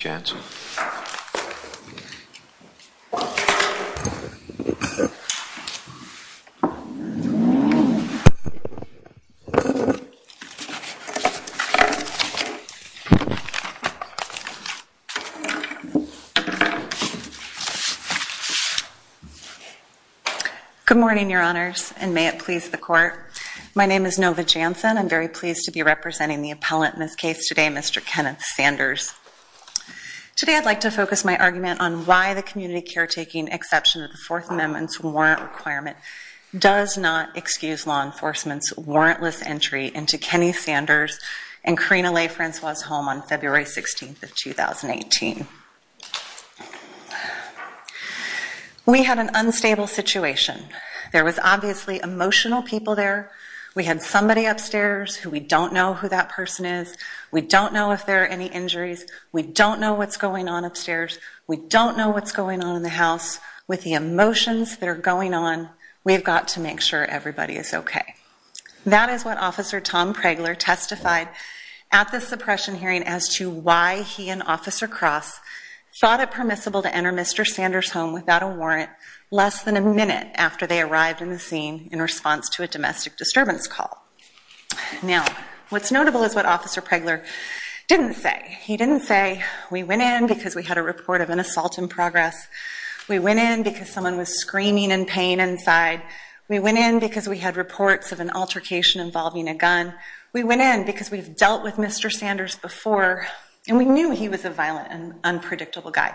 Good morning, your honors, and may it please the court. My name is Nova Jansen. I'm very pleased to be representing the appellant in this case today, Mr. Kenneth Sanders. Today, I'd like to focus my argument on why the community caretaking exception of the Fourth Amendment's warrant requirement does not excuse law enforcement's warrantless entry into Kenny Sanders and Karina Leigh Francois's home on February 16th of 2018. We had an unstable situation. There was obviously emotional people there. We had somebody upstairs who we don't know who that person is. We don't know if there are any injuries. We don't know what's going on upstairs. We don't know what's going on in the house. With the emotions that are going on, we've got to make sure everybody is okay. That is what Officer Tom Pregler testified at the suppression hearing as to why he and Officer Cross thought it permissible to enter Mr. Sanders' home without a warrant less than a minute after they arrived in the scene in response to a domestic disturbance call. Now, what's notable is what Officer Pregler didn't say. He didn't say, we went in because we had a report of an assault in progress. We went in because someone was screaming in pain inside. We went in because we had reports of an altercation involving a gun. We went in because we've dealt with Mr. Sanders before and we knew he was a violent and unpredictable guy.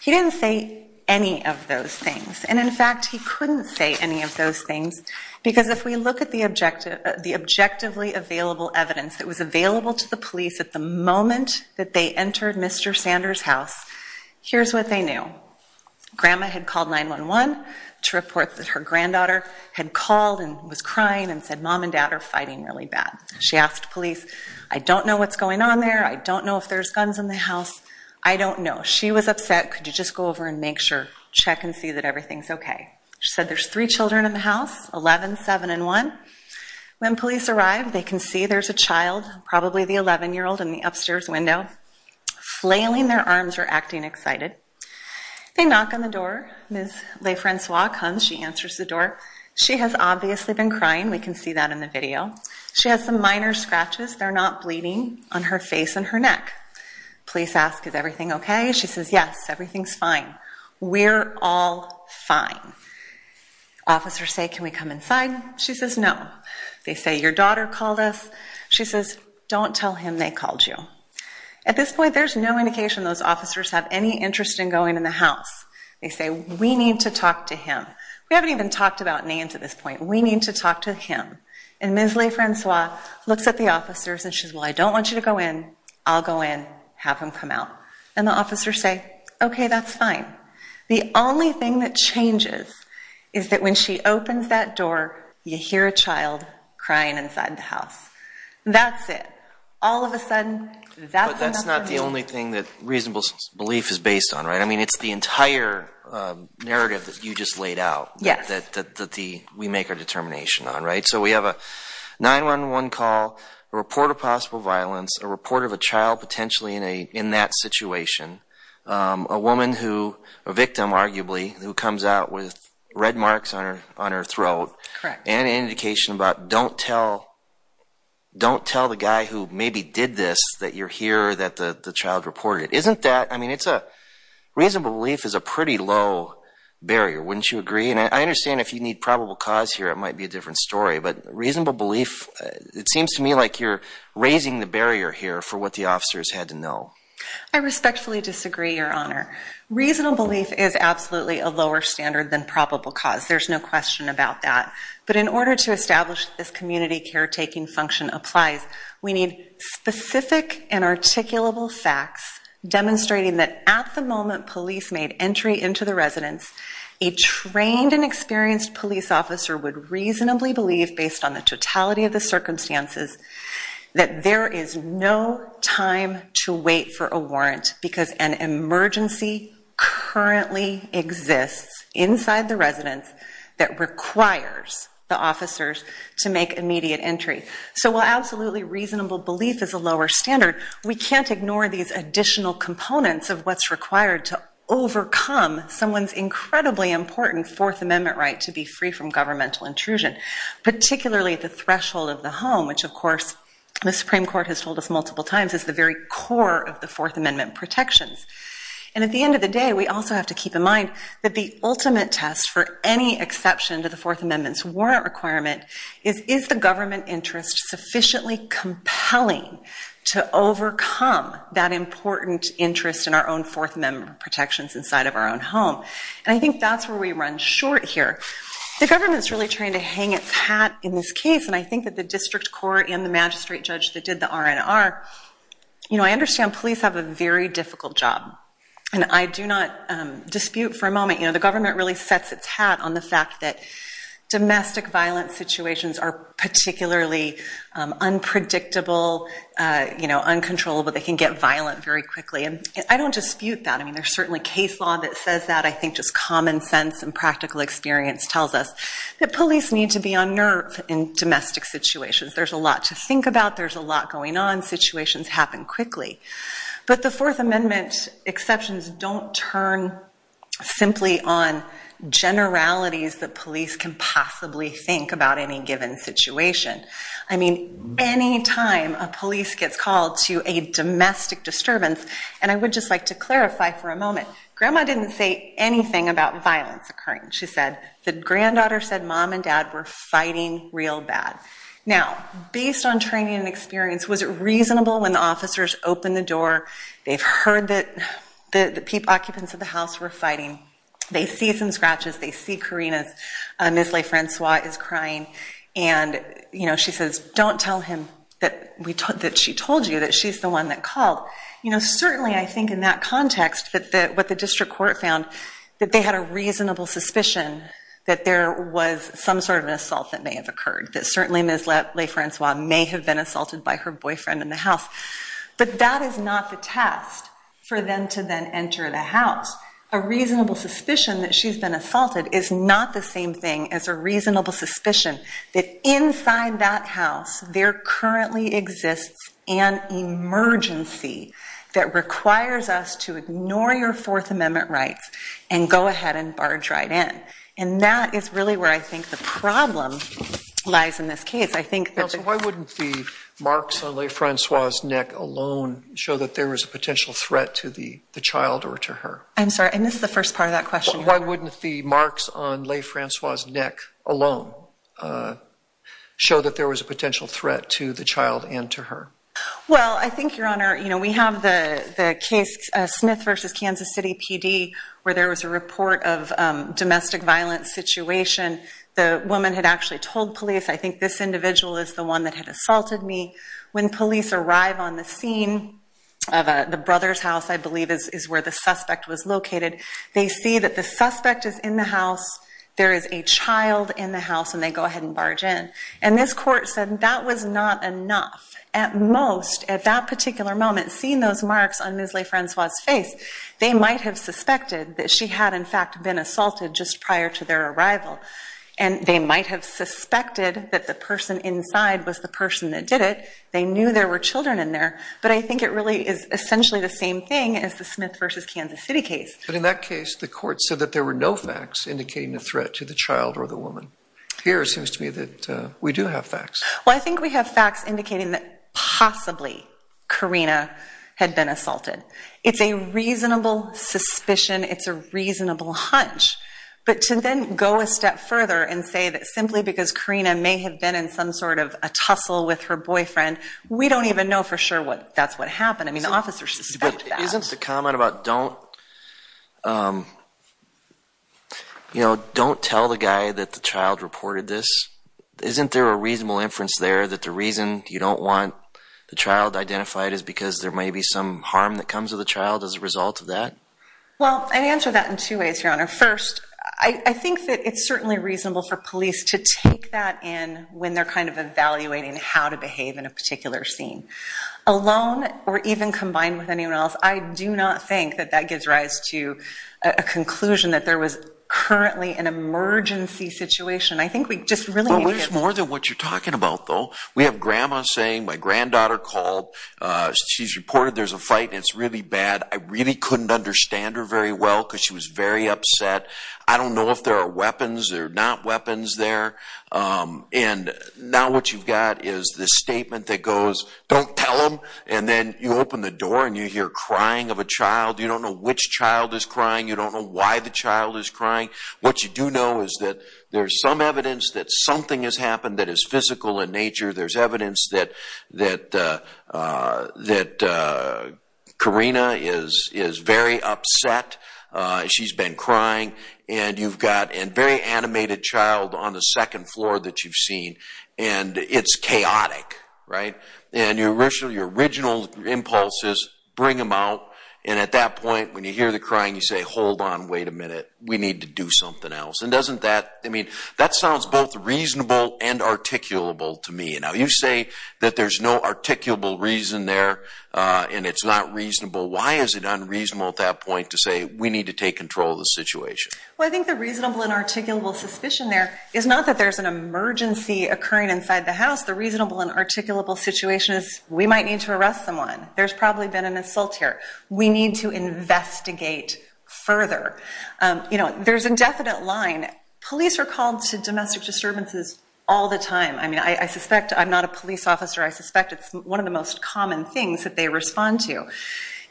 He didn't say any of those things and in fact he couldn't say any of those things because if we look at the objective, the objectively available evidence that was available to the police at the moment that they entered Mr. Sanders' house, here's what they knew. Grandma had called 9-1-1 to report that her granddaughter had called and was crying and said mom and dad are fighting really bad. She asked police, I don't know what's going on there. I don't know if there's guns in the house. I don't know. She was upset. Could you just go over and make sure, check and see that everything's okay? She said there's three children in the house, 11, 7, and 1. When police arrived they can see there's a child, probably the 11 year old, in the upstairs window. Flailing their arms or acting excited. They knock on the door. Ms. LeFrancois comes. She answers the door. She has obviously been crying. We can see that in the video. She has some minor scratches. They're not bleeding on her face and her neck. Police ask is everything okay? She says yes, everything's fine. We're all fine. Officers say can we come inside? She says no. They say your daughter called us. She says don't tell him they called you. At this point there's no indication those officers have any interest in going in the house. They say we need to talk to him. We haven't even talked about names at this point. We need to talk to him. And Ms. LeFrancois looks at the officers and she says well, I don't want you to go in. I'll go in. Have him come out. And the officers say okay, that's fine. The only thing that changes is that when she opens that door, you hear a child crying inside the house. That's it. All of a sudden, that's enough for me. But that's not the only thing that reasonable belief is based on, right? I mean, it's the entire narrative that you just laid out. Yes. That we make our determination on, right? So we have a 911 call, a report of possible violence, a report of a child potentially in that situation, a woman who, a victim arguably, who comes out with red marks on her on her throat and an indication about don't tell don't tell the guy who maybe did this that you're here, that the child reported. Isn't that, I mean, it's a reasonable belief is a pretty low barrier, wouldn't you agree? And I understand if you need probable cause here, it might be a different story. But reasonable belief, it seems to me like you're raising the barrier here for what the officers had to know. I respectfully disagree, Your Honor. Reasonable belief is absolutely a lower standard than probable cause. There's no question about that. But in order to establish this community caretaking function applies, we need specific and articulable facts demonstrating that at the moment police made entry into the residence, a trained and experienced police officer would reasonably believe, based on the totality of the circumstances, that there is no time to wait for a warrant because an emergency currently exists inside the residence that requires the officers to make immediate entry. So while absolutely reasonable belief is a lower standard, we can't ignore these additional components of what's required to overcome someone's incredibly important Fourth Amendment right to be free from governmental intrusion, particularly at the threshold of the home, which of course the Supreme Court has told us multiple times is the very core of the Fourth Amendment protections. And at the end of the day, we also have to keep in mind that the ultimate test for any exception to the Fourth Amendment's warrant requirement is, is the government interest sufficiently compelling to overcome that important interest in our own Fourth Amendment protections inside of our own home? And I think that's where we run short here. The government's really trying to hang its hat in this case, and I think that the district court and the magistrate judge that did the R&R, you know, I understand police have a very difficult job, and I do not dispute for a moment, you know, the government really sets its hat on the fact that domestic violence situations are particularly unpredictable, you know, uncontrollable. They can get violent very quickly, and I don't dispute that. I mean, there's certainly case law that says that. I think just common sense and practical experience tells us that police need to be on nerve in domestic situations. There's a lot to think about. There's a lot going on. Situations happen quickly. But the Fourth Amendment exceptions don't turn simply on generalities that police can possibly think about any given situation. I mean, any time a police gets called to a house, you know, and I'll talk about that for a moment, grandma didn't say anything about violence occurring. She said the granddaughter said mom and dad were fighting real bad. Now, based on training and experience, was it reasonable when the officers opened the door, they've heard that the occupants of the house were fighting, they see some scratches, they see Karina's, Ms. LeFrancois is crying, and you know, she says, don't tell him that she told you that she's the one that called. You know, certainly I think in that context that what the district court found, that they had a reasonable suspicion that there was some sort of an assault that may have occurred, that certainly Ms. LeFrancois may have been assaulted by her boyfriend in the house. But that is not the test for them to then enter the house. A reasonable suspicion that she's been assaulted is not the same thing as a reasonable suspicion that inside that house there currently exists an emergency that requires us to ignore your Fourth Amendment rights and go ahead and barge right in. And that is really where I think the problem lies in this case. I think... Counsel, why wouldn't the marks on LeFrancois' neck alone show that there was a potential threat to the child or to her? I'm sorry, I missed the first part of that question. Why wouldn't the marks on LeFrancois' neck alone show that there was a potential threat to the child and to her? Well, I think, Your Honor, you know, we have the case Smith v. Kansas City PD where there was a report of domestic violence situation. The woman had actually told police, I think this individual is the one that had assaulted me. When police arrive on the scene of the brother's house, I believe, is where the suspect was located, they see that the suspect is in the house. There is a child in the house and they go ahead and barge in. And this court said that was not enough. At most, at that particular moment, seeing those marks on Ms. LeFrancois' face, they might have suspected that she had, in fact, been assaulted just prior to their arrival. And they might have suspected that the person inside was the person that did it. They knew there were children in there. But I think it really is essentially the same thing as the Smith v. Kansas City case. But in that case, the court said that there were no facts indicating a threat to the child or the woman. Here, it seems to me that we do have facts. Well, I think we have facts indicating that possibly Karina had been assaulted. It's a reasonable suspicion. It's a reasonable hunch. But to then go a step further and say that simply because Karina may have been in some sort of a tussle with her boyfriend, we don't even know for sure what that's what happened. But isn't the comment about don't you know, don't tell the guy that the child reported this, isn't there a reasonable inference there that the reason you don't want the child identified is because there may be some harm that comes to the child as a result of that? Well, I'd answer that in two ways, Your Honor. First, I think that it's certainly reasonable for police to take that in when they're kind of evaluating how to behave in a particular scene. Alone, or even combined with anyone else, I do not think that that gives rise to a conclusion that there was currently an emergency situation. I think we just really need to get... Well, there's more than what you're talking about, though. We have grandma saying, my granddaughter called, she's reported there's a fight, and it's really bad. I really couldn't understand her very well because she was very upset. I don't know if there are weapons. There are not weapons there. And now what you've got is the statement that goes, don't tell them, and then you open the door and you hear crying of a child. You don't know which child is crying. You don't know why the child is crying. What you do know is that there's some evidence that something has happened that is physical in nature. There's evidence that that Karina is is very upset. She's been crying, and you've got a very animated child on the second floor that you've seen, and it's chaotic, right? And your original impulses bring them out, and at that point when you hear the crying you say, hold on, wait a minute. We need to do something else. And doesn't that, I mean, that sounds both reasonable and articulable to me. And now you say that there's no articulable reason there, and it's not reasonable. Why is it unreasonable at that point to say we need to take control of the situation? Well, I think the reasonable and articulable suspicion there is not that there's an emergency occurring inside the house. The reasonable and articulable situation is we might need to arrest someone. There's probably been an assault here. We need to investigate further. You know, there's indefinite line. Police are called to domestic disturbances all the time. I mean, I suspect I'm not a police officer. I suspect it's one of the most common things that they respond to.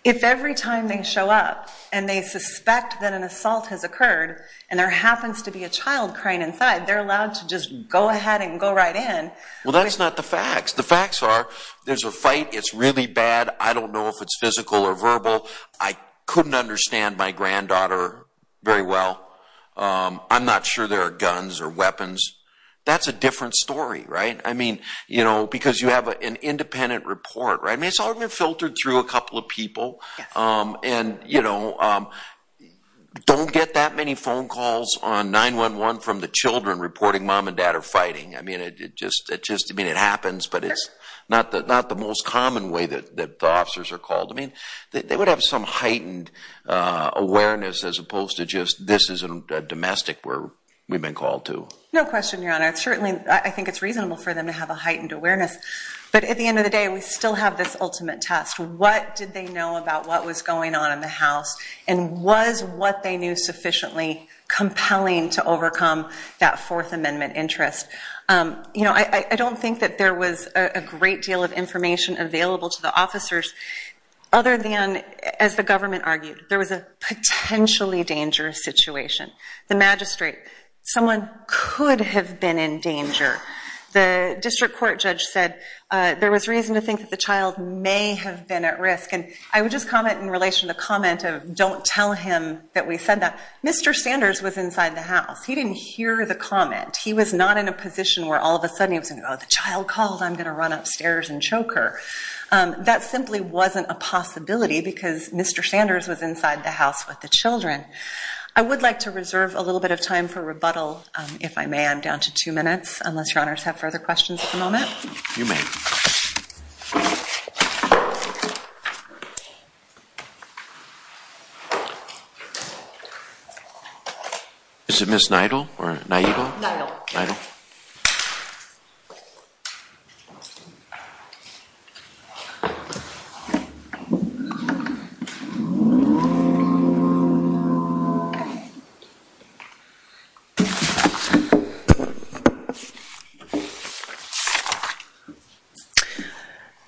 If every time they show up, and they suspect that an assault has occurred, and there happens to be a child crying inside, they're allowed to just go ahead and go right in. Well, that's not the facts. The facts are there's a fight. It's really bad. I don't know if it's physical or verbal. I couldn't understand my granddaughter very well. I'm not sure there are guns or weapons. That's a different story, right? I mean, you know, because you have an independent report, right? And, you know, don't get that many phone calls on 9-1-1 from the children reporting mom and dad are fighting. I mean, it just happens, but it's not the most common way that the officers are called. I mean, they would have some heightened awareness as opposed to just, this is a domestic where we've been called to. No question, Your Honor. Certainly, I think it's reasonable for them to have a heightened awareness, but at the end of the day, we still have this ultimate test. What did they know about what was going on in the house, and was what they knew sufficiently compelling to overcome that Fourth Amendment interest? You know, I don't think that there was a great deal of information available to the officers other than, as the government argued, there was a potentially dangerous situation. The magistrate, someone could have been in danger. The district court judge said there was reason to think that the child may have been at risk, and I would just comment in relation to the comment of don't tell him that we said that. Mr. Sanders was inside the house. He didn't hear the comment. He was not in a position where all of a sudden he was like, oh, the child called. I'm gonna run upstairs and choke her. That simply wasn't a possibility because Mr. Sanders was inside the house with the children. I would like to reserve a little bit of time for rebuttal, if I may. I'm down to two minutes, unless your honors have further questions at the moment. Is it Ms. Nidal? Okay. May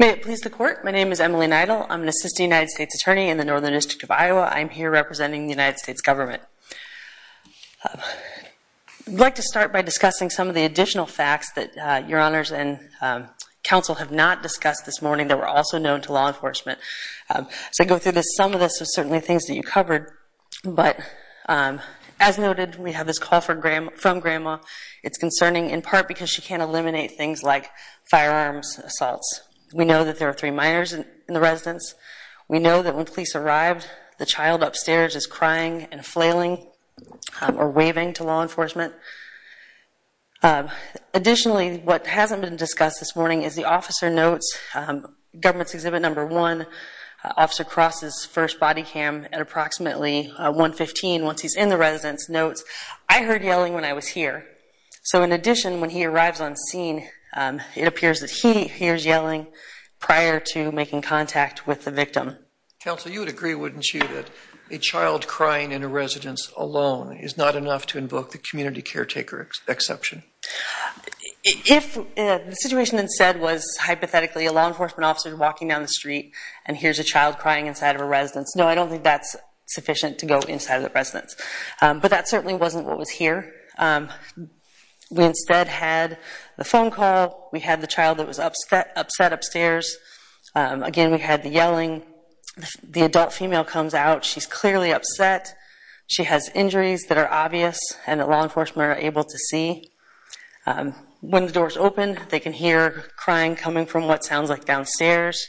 it please the court, my name is Emily Nidal. I'm an assistant United States attorney in the Northern District of Iowa. I'm here representing the United States government. I'd like to start by discussing some of the additional facts that your honors and counsel have not discussed this morning that were also known to law enforcement. As I go through this, some of this is certainly things that you covered, but as noted, we have this call from Grandma. It's concerning in part because she can't eliminate things like firearms assaults. We know that there are three minors in the residence. We know that when police arrived, the child upstairs is crying and flailing or waving to law enforcement. Additionally, what hasn't been discussed this morning is the officer notes government's exhibit number one, Officer Cross's first body cam at approximately 115 once he's in the residence notes, I heard yelling when I was here. So in addition, when he arrives on scene, it appears that he hears yelling prior to making contact with the victim. Counsel, you would agree, wouldn't you, that a child crying in a residence alone is not enough to invoke the community caretaker exception? If the situation instead was hypothetically a law enforcement officer walking down the street and hears a child crying inside of a residence, no, I don't think that's sufficient to go inside of the residence, but that certainly wasn't what was here. We instead had the phone call. We had the child that was upset upstairs. Again, we had the yelling. The adult female comes out. She's clearly upset. She has injuries that are obvious and that law enforcement are able to see. When the doors open, they can hear crying coming from what sounds like downstairs.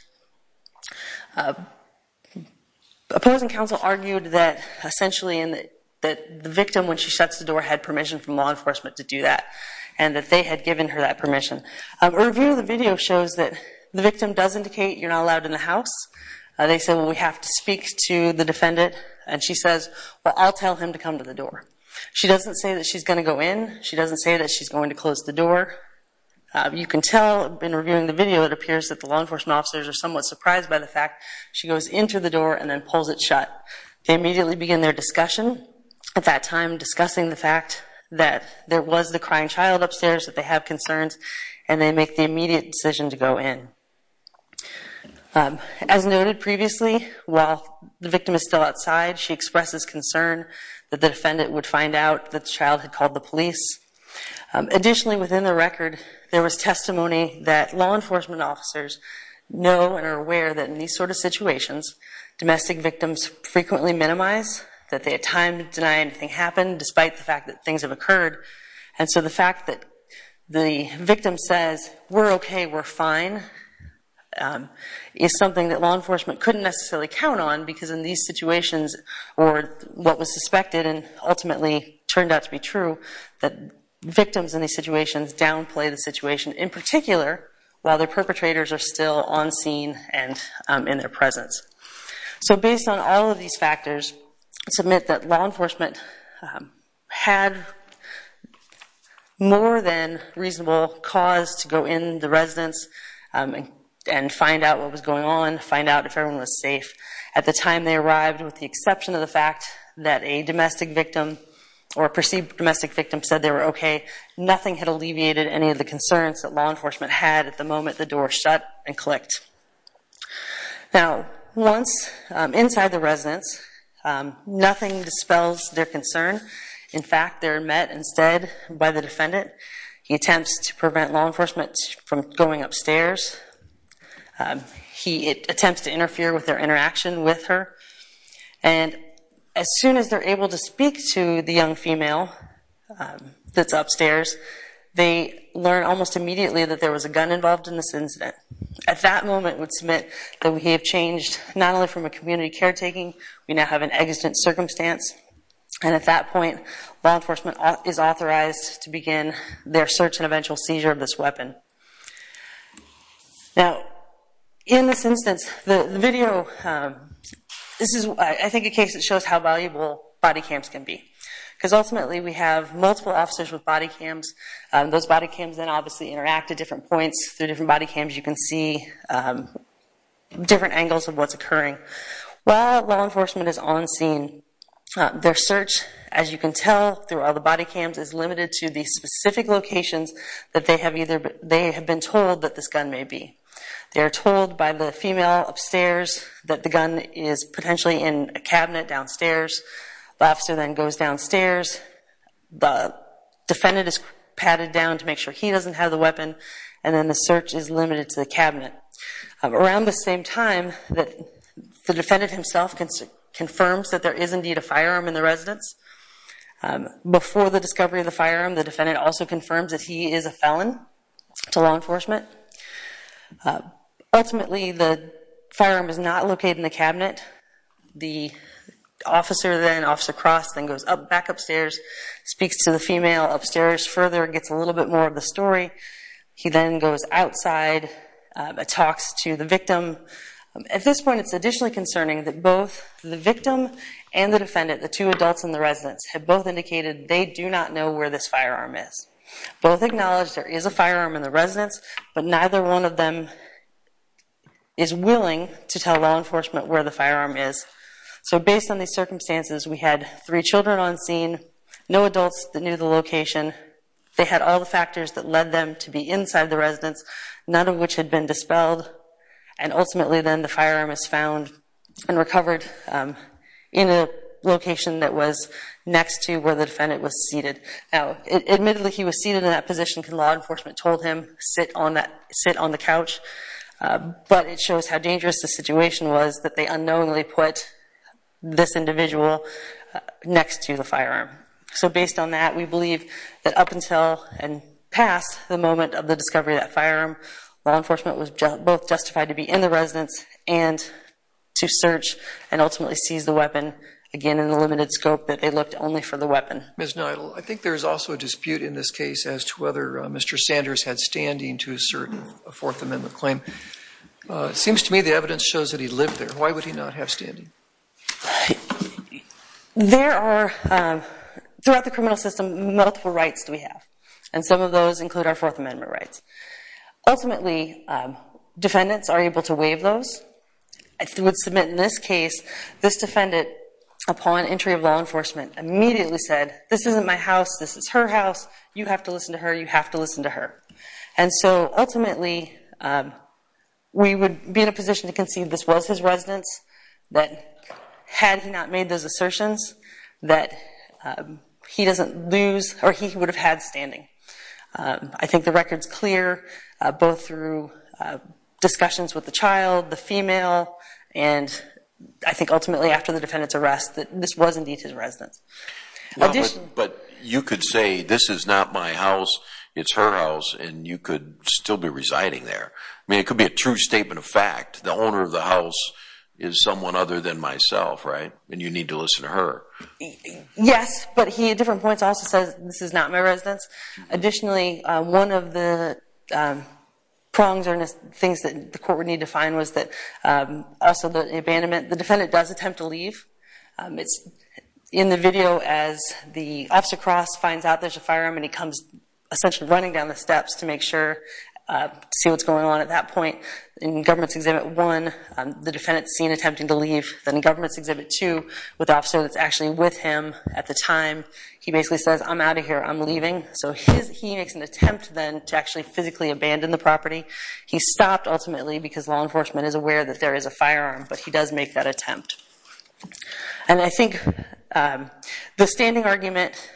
Opposing counsel argued that essentially in that the victim when she shuts the door had permission from law enforcement to do that and that they had given her that permission. A review of the video shows that the victim does indicate you're not allowed in the house. They said we have to speak to the defendant and she says, well, I'll tell him to come to the door. She doesn't say that she's going to go in. She doesn't say that she's going to close the door. You can tell in reviewing the video it appears that the law enforcement officers are somewhat surprised by the fact she goes into the door and then pulls it shut. They immediately begin their discussion at that time discussing the fact that there was the crying child upstairs that they have concerns and they make the immediate decision to go in. As noted previously, while the victim is still outside, she expresses concern that the defendant would find out that the child had called the police. Additionally, within the record, there was testimony that law enforcement officers know and are aware that in these sort of situations, domestic victims frequently minimize that they had time to deny anything happened despite the fact that things have occurred. And so the fact that the victim says, we're okay, we're fine, is something that law enforcement couldn't necessarily count on because in these situations, or what was suspected and ultimately turned out to be true, that victims in these situations downplay the situation in particular while their perpetrators are still on scene and in their presence. So based on all of these factors, let's admit that law enforcement had more than reasonable cause to go in the residence and find out what was going on, find out if everyone was safe. At the time they arrived, with the exception of the fact that a domestic victim or a perceived domestic victim said they were okay, nothing had alleviated any of the concerns that law enforcement had at the moment the door shut and clicked. Now once inside the residence, nothing dispels their concern. In fact, they're met instead by the defendant. He attempts to prevent law enforcement from going upstairs. He attempts to interfere with their interaction with her, and as soon as they're able to speak to the young female that's upstairs, they learn almost immediately that there was a gun involved in this incident. At that moment, we would submit that we have changed not only from a community caretaking, we now have an exigent circumstance, and at that point law enforcement is authorized to begin their search and eventual seizure of this weapon. Now in this instance, the video, this is, I think, a case that shows how valuable body cams can be because ultimately we have multiple officers with body cams. Those body cams then obviously interact at different points through different body cams. You can see different angles of what's occurring. While law enforcement is on scene, their search, as you can tell through all the body cams, is limited to these specific locations that they have either been told that this gun may be. They are told by the female upstairs that the gun is potentially in a cabinet downstairs. The officer then goes downstairs. The defendant is patted down to make sure he doesn't have the weapon, and then the search is limited to the cabinet. Around the same time that the defendant himself confirms that there is indeed a firearm in the residence, before the discovery of the firearm, the defendant also confirms that he is a felon to law enforcement. Ultimately, the firearm is not located in the cabinet. The officer then, Officer Cross, then goes up back upstairs, speaks to the female upstairs further, gets a little bit more of the story. He then goes outside, talks to the victim. At this point, it's additionally concerning that both the victim and the defendant, the two adults in the residence, have both indicated they do not know where this firearm is. Both acknowledge there is a firearm in the residence, but neither one of them is willing to tell law enforcement where the firearm is. So based on these circumstances, we had three children on scene, no adults that knew the location. They had all the factors that led them to be inside the residence, none of which had been dispelled, and ultimately then the firearm is found and recovered in a location that was next to where the defendant was seated. Admittedly, he was seated in that position because law enforcement told him sit on the couch, but it shows how dangerous the situation was that they unknowingly put this individual next to the firearm. So based on that, we believe that up until and past the moment of the discovery of that firearm, law enforcement was both justified to be in the residence and to search and ultimately seize the weapon, again in the limited scope that they looked only for the weapon. Ms. Neidl, I think there is also a dispute in this case as to whether Mr. Sanders had standing to assert a Fourth Amendment claim. Seems to me the evidence shows that he lived there. Why would he not have standing? There are, throughout the criminal system, multiple rights that we have, and some of those include our Fourth Amendment rights. Ultimately, defendants are able to waive those. I would submit in this case, this defendant, upon entry of law enforcement, immediately said, this isn't my house. This is her house. You have to listen to her. You have to listen to her. And so ultimately, we would be in a position to concede this was his residence, but had he not made those assertions, that he doesn't lose, or he would have had standing. I think the record's clear, both through discussions with the child, the female, and I think ultimately after the defendant's arrest, that this was indeed his residence. But you could say, this is not my house. It's her house, and you could still be residing there. I mean, it could be a true statement of fact. The owner of the house is someone other than myself, right? And you need to listen to her. Yes, but he, at different points, also says, this is not my residence. Additionally, one of the prongs, or things that the court would need to find, was that also the abandonment. The defendant does attempt to leave. It's in the video, as the officer cross finds out there's a firearm, and he comes, essentially running down the steps to make sure, to see what's going on at that point. In Government's Exhibit 1, the defendant's seen attempting to leave. Then in Government's Exhibit 2, with the officer that's actually with him at the time, he basically says, I'm out of here. I'm leaving. So he makes an attempt, then, to actually physically abandon the property. He stopped, ultimately, because law enforcement is aware that there is a firearm, but he does make that attempt. And I think the standing argument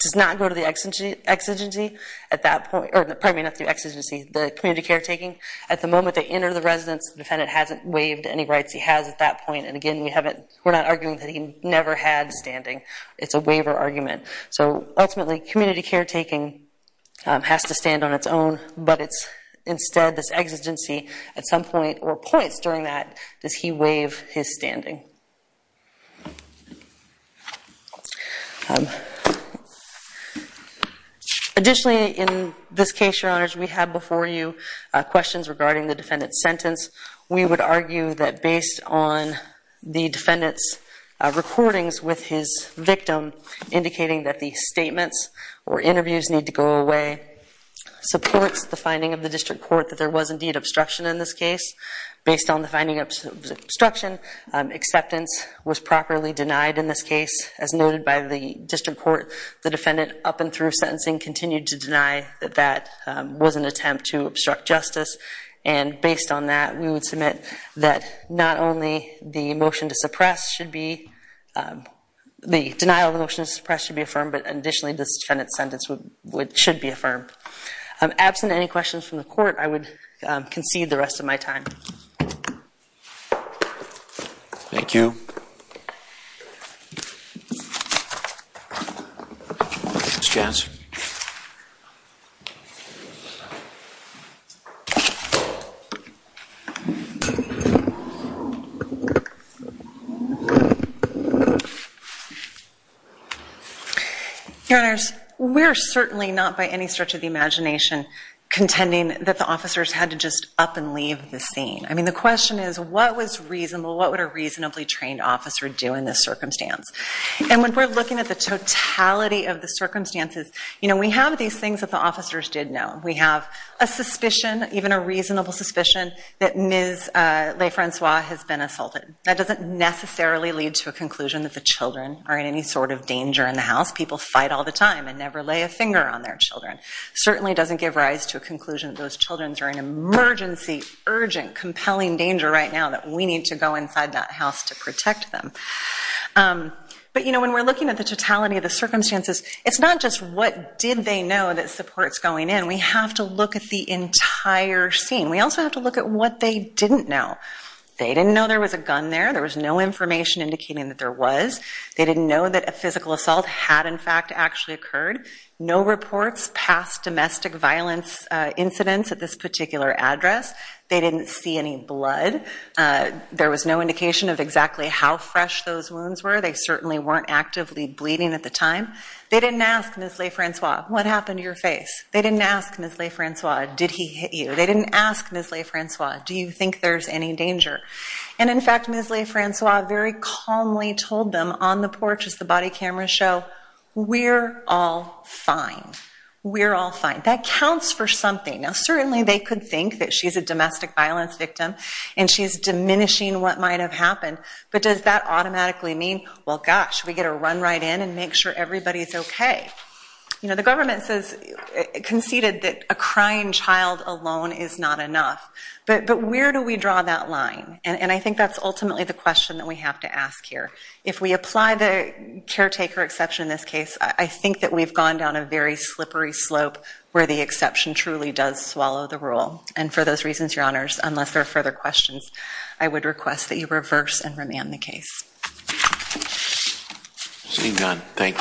does not go to the exigency at that point, or pardon me, not the exigency, the community caretaking. At the moment they enter the residence, the defendant hasn't waived any rights he has at that point. And again, we haven't, we're not arguing that he never had standing. It's a waiver argument. So, ultimately, community caretaking has to stand on its own, but it's, instead, this exigency, at some point, or points during that, does he waive his standing? Additionally, in this case, Your Honors, we have before you questions regarding the defendant's sentence. We would argue that, based on the defendant's recordings with his victim, indicating that the statements or interviews need to go away, supports the finding of the district court that there was, indeed, obstruction in this case. Based on the finding of obstruction, acceptance was properly denied in this case. As noted by the district court, the defendant, up and through sentencing, continued to deny that that was an attempt to obstruct justice. And, based on that, we would submit that not only the motion to suppress should be, the denial of the motion to suppress should be affirmed, but, additionally, this defendant's sentence should be affirmed. Absent any questions from the court, I would concede the rest of my time. Thank you. Your Honors, we're certainly not, by any stretch of the imagination, contending that the officers had to just up and leave the scene. I mean, the question is, what was reasonable? What would a reasonably trained officer do in this circumstance? And, when we're looking at the totality of the circumstances, you know, we have these things that the officers did know. We have a suspicion, even a reasonable suspicion, that Ms. LeFrancois has been assaulted. That doesn't necessarily lead to a conclusion that the children are in any sort of danger in the house. People fight all the time and never lay a finger on their children. It certainly doesn't give rise to a conclusion that those children are in an emergency, urgent, compelling danger right now that we need to go inside that house to protect them. But, you know, when we're looking at the totality of the circumstances, it's not just what did they know that supports going in. We have to look at the entire scene. We also have to look at what they didn't know. They didn't know there was a gun there. There was no information indicating that there was. They didn't know that a physical assault had, in fact, actually occurred. No reports past domestic violence incidents at this particular address. They didn't see any blood. There was no indication of exactly how fresh those wounds were. They certainly weren't actively bleeding at the time. They didn't ask Ms. LeFrancois, what happened to your face? They didn't ask Ms. LeFrancois, did he hit you? They didn't ask Ms. LeFrancois, do you think there's any danger? And in fact, Ms. LeFrancois very calmly told them on the porch as the body cameras show, we're all fine. We're all fine. That counts for something. Now, certainly they could think that she's a domestic violence victim and she's diminishing what might have happened, but does that automatically mean, well, gosh, we get a run right in and make sure everybody's okay? You know, the government says, conceded that a crying child alone is not enough. But where do we draw that line? And I think that's ultimately the question that we have to ask here. If we apply the caretaker exception in this case, I think that we've gone down a very slippery slope where the exception truly does swallow the rule. And for those reasons, your honors, unless there are further questions, I would request that you reverse and remand the case. Seeing none, thank you.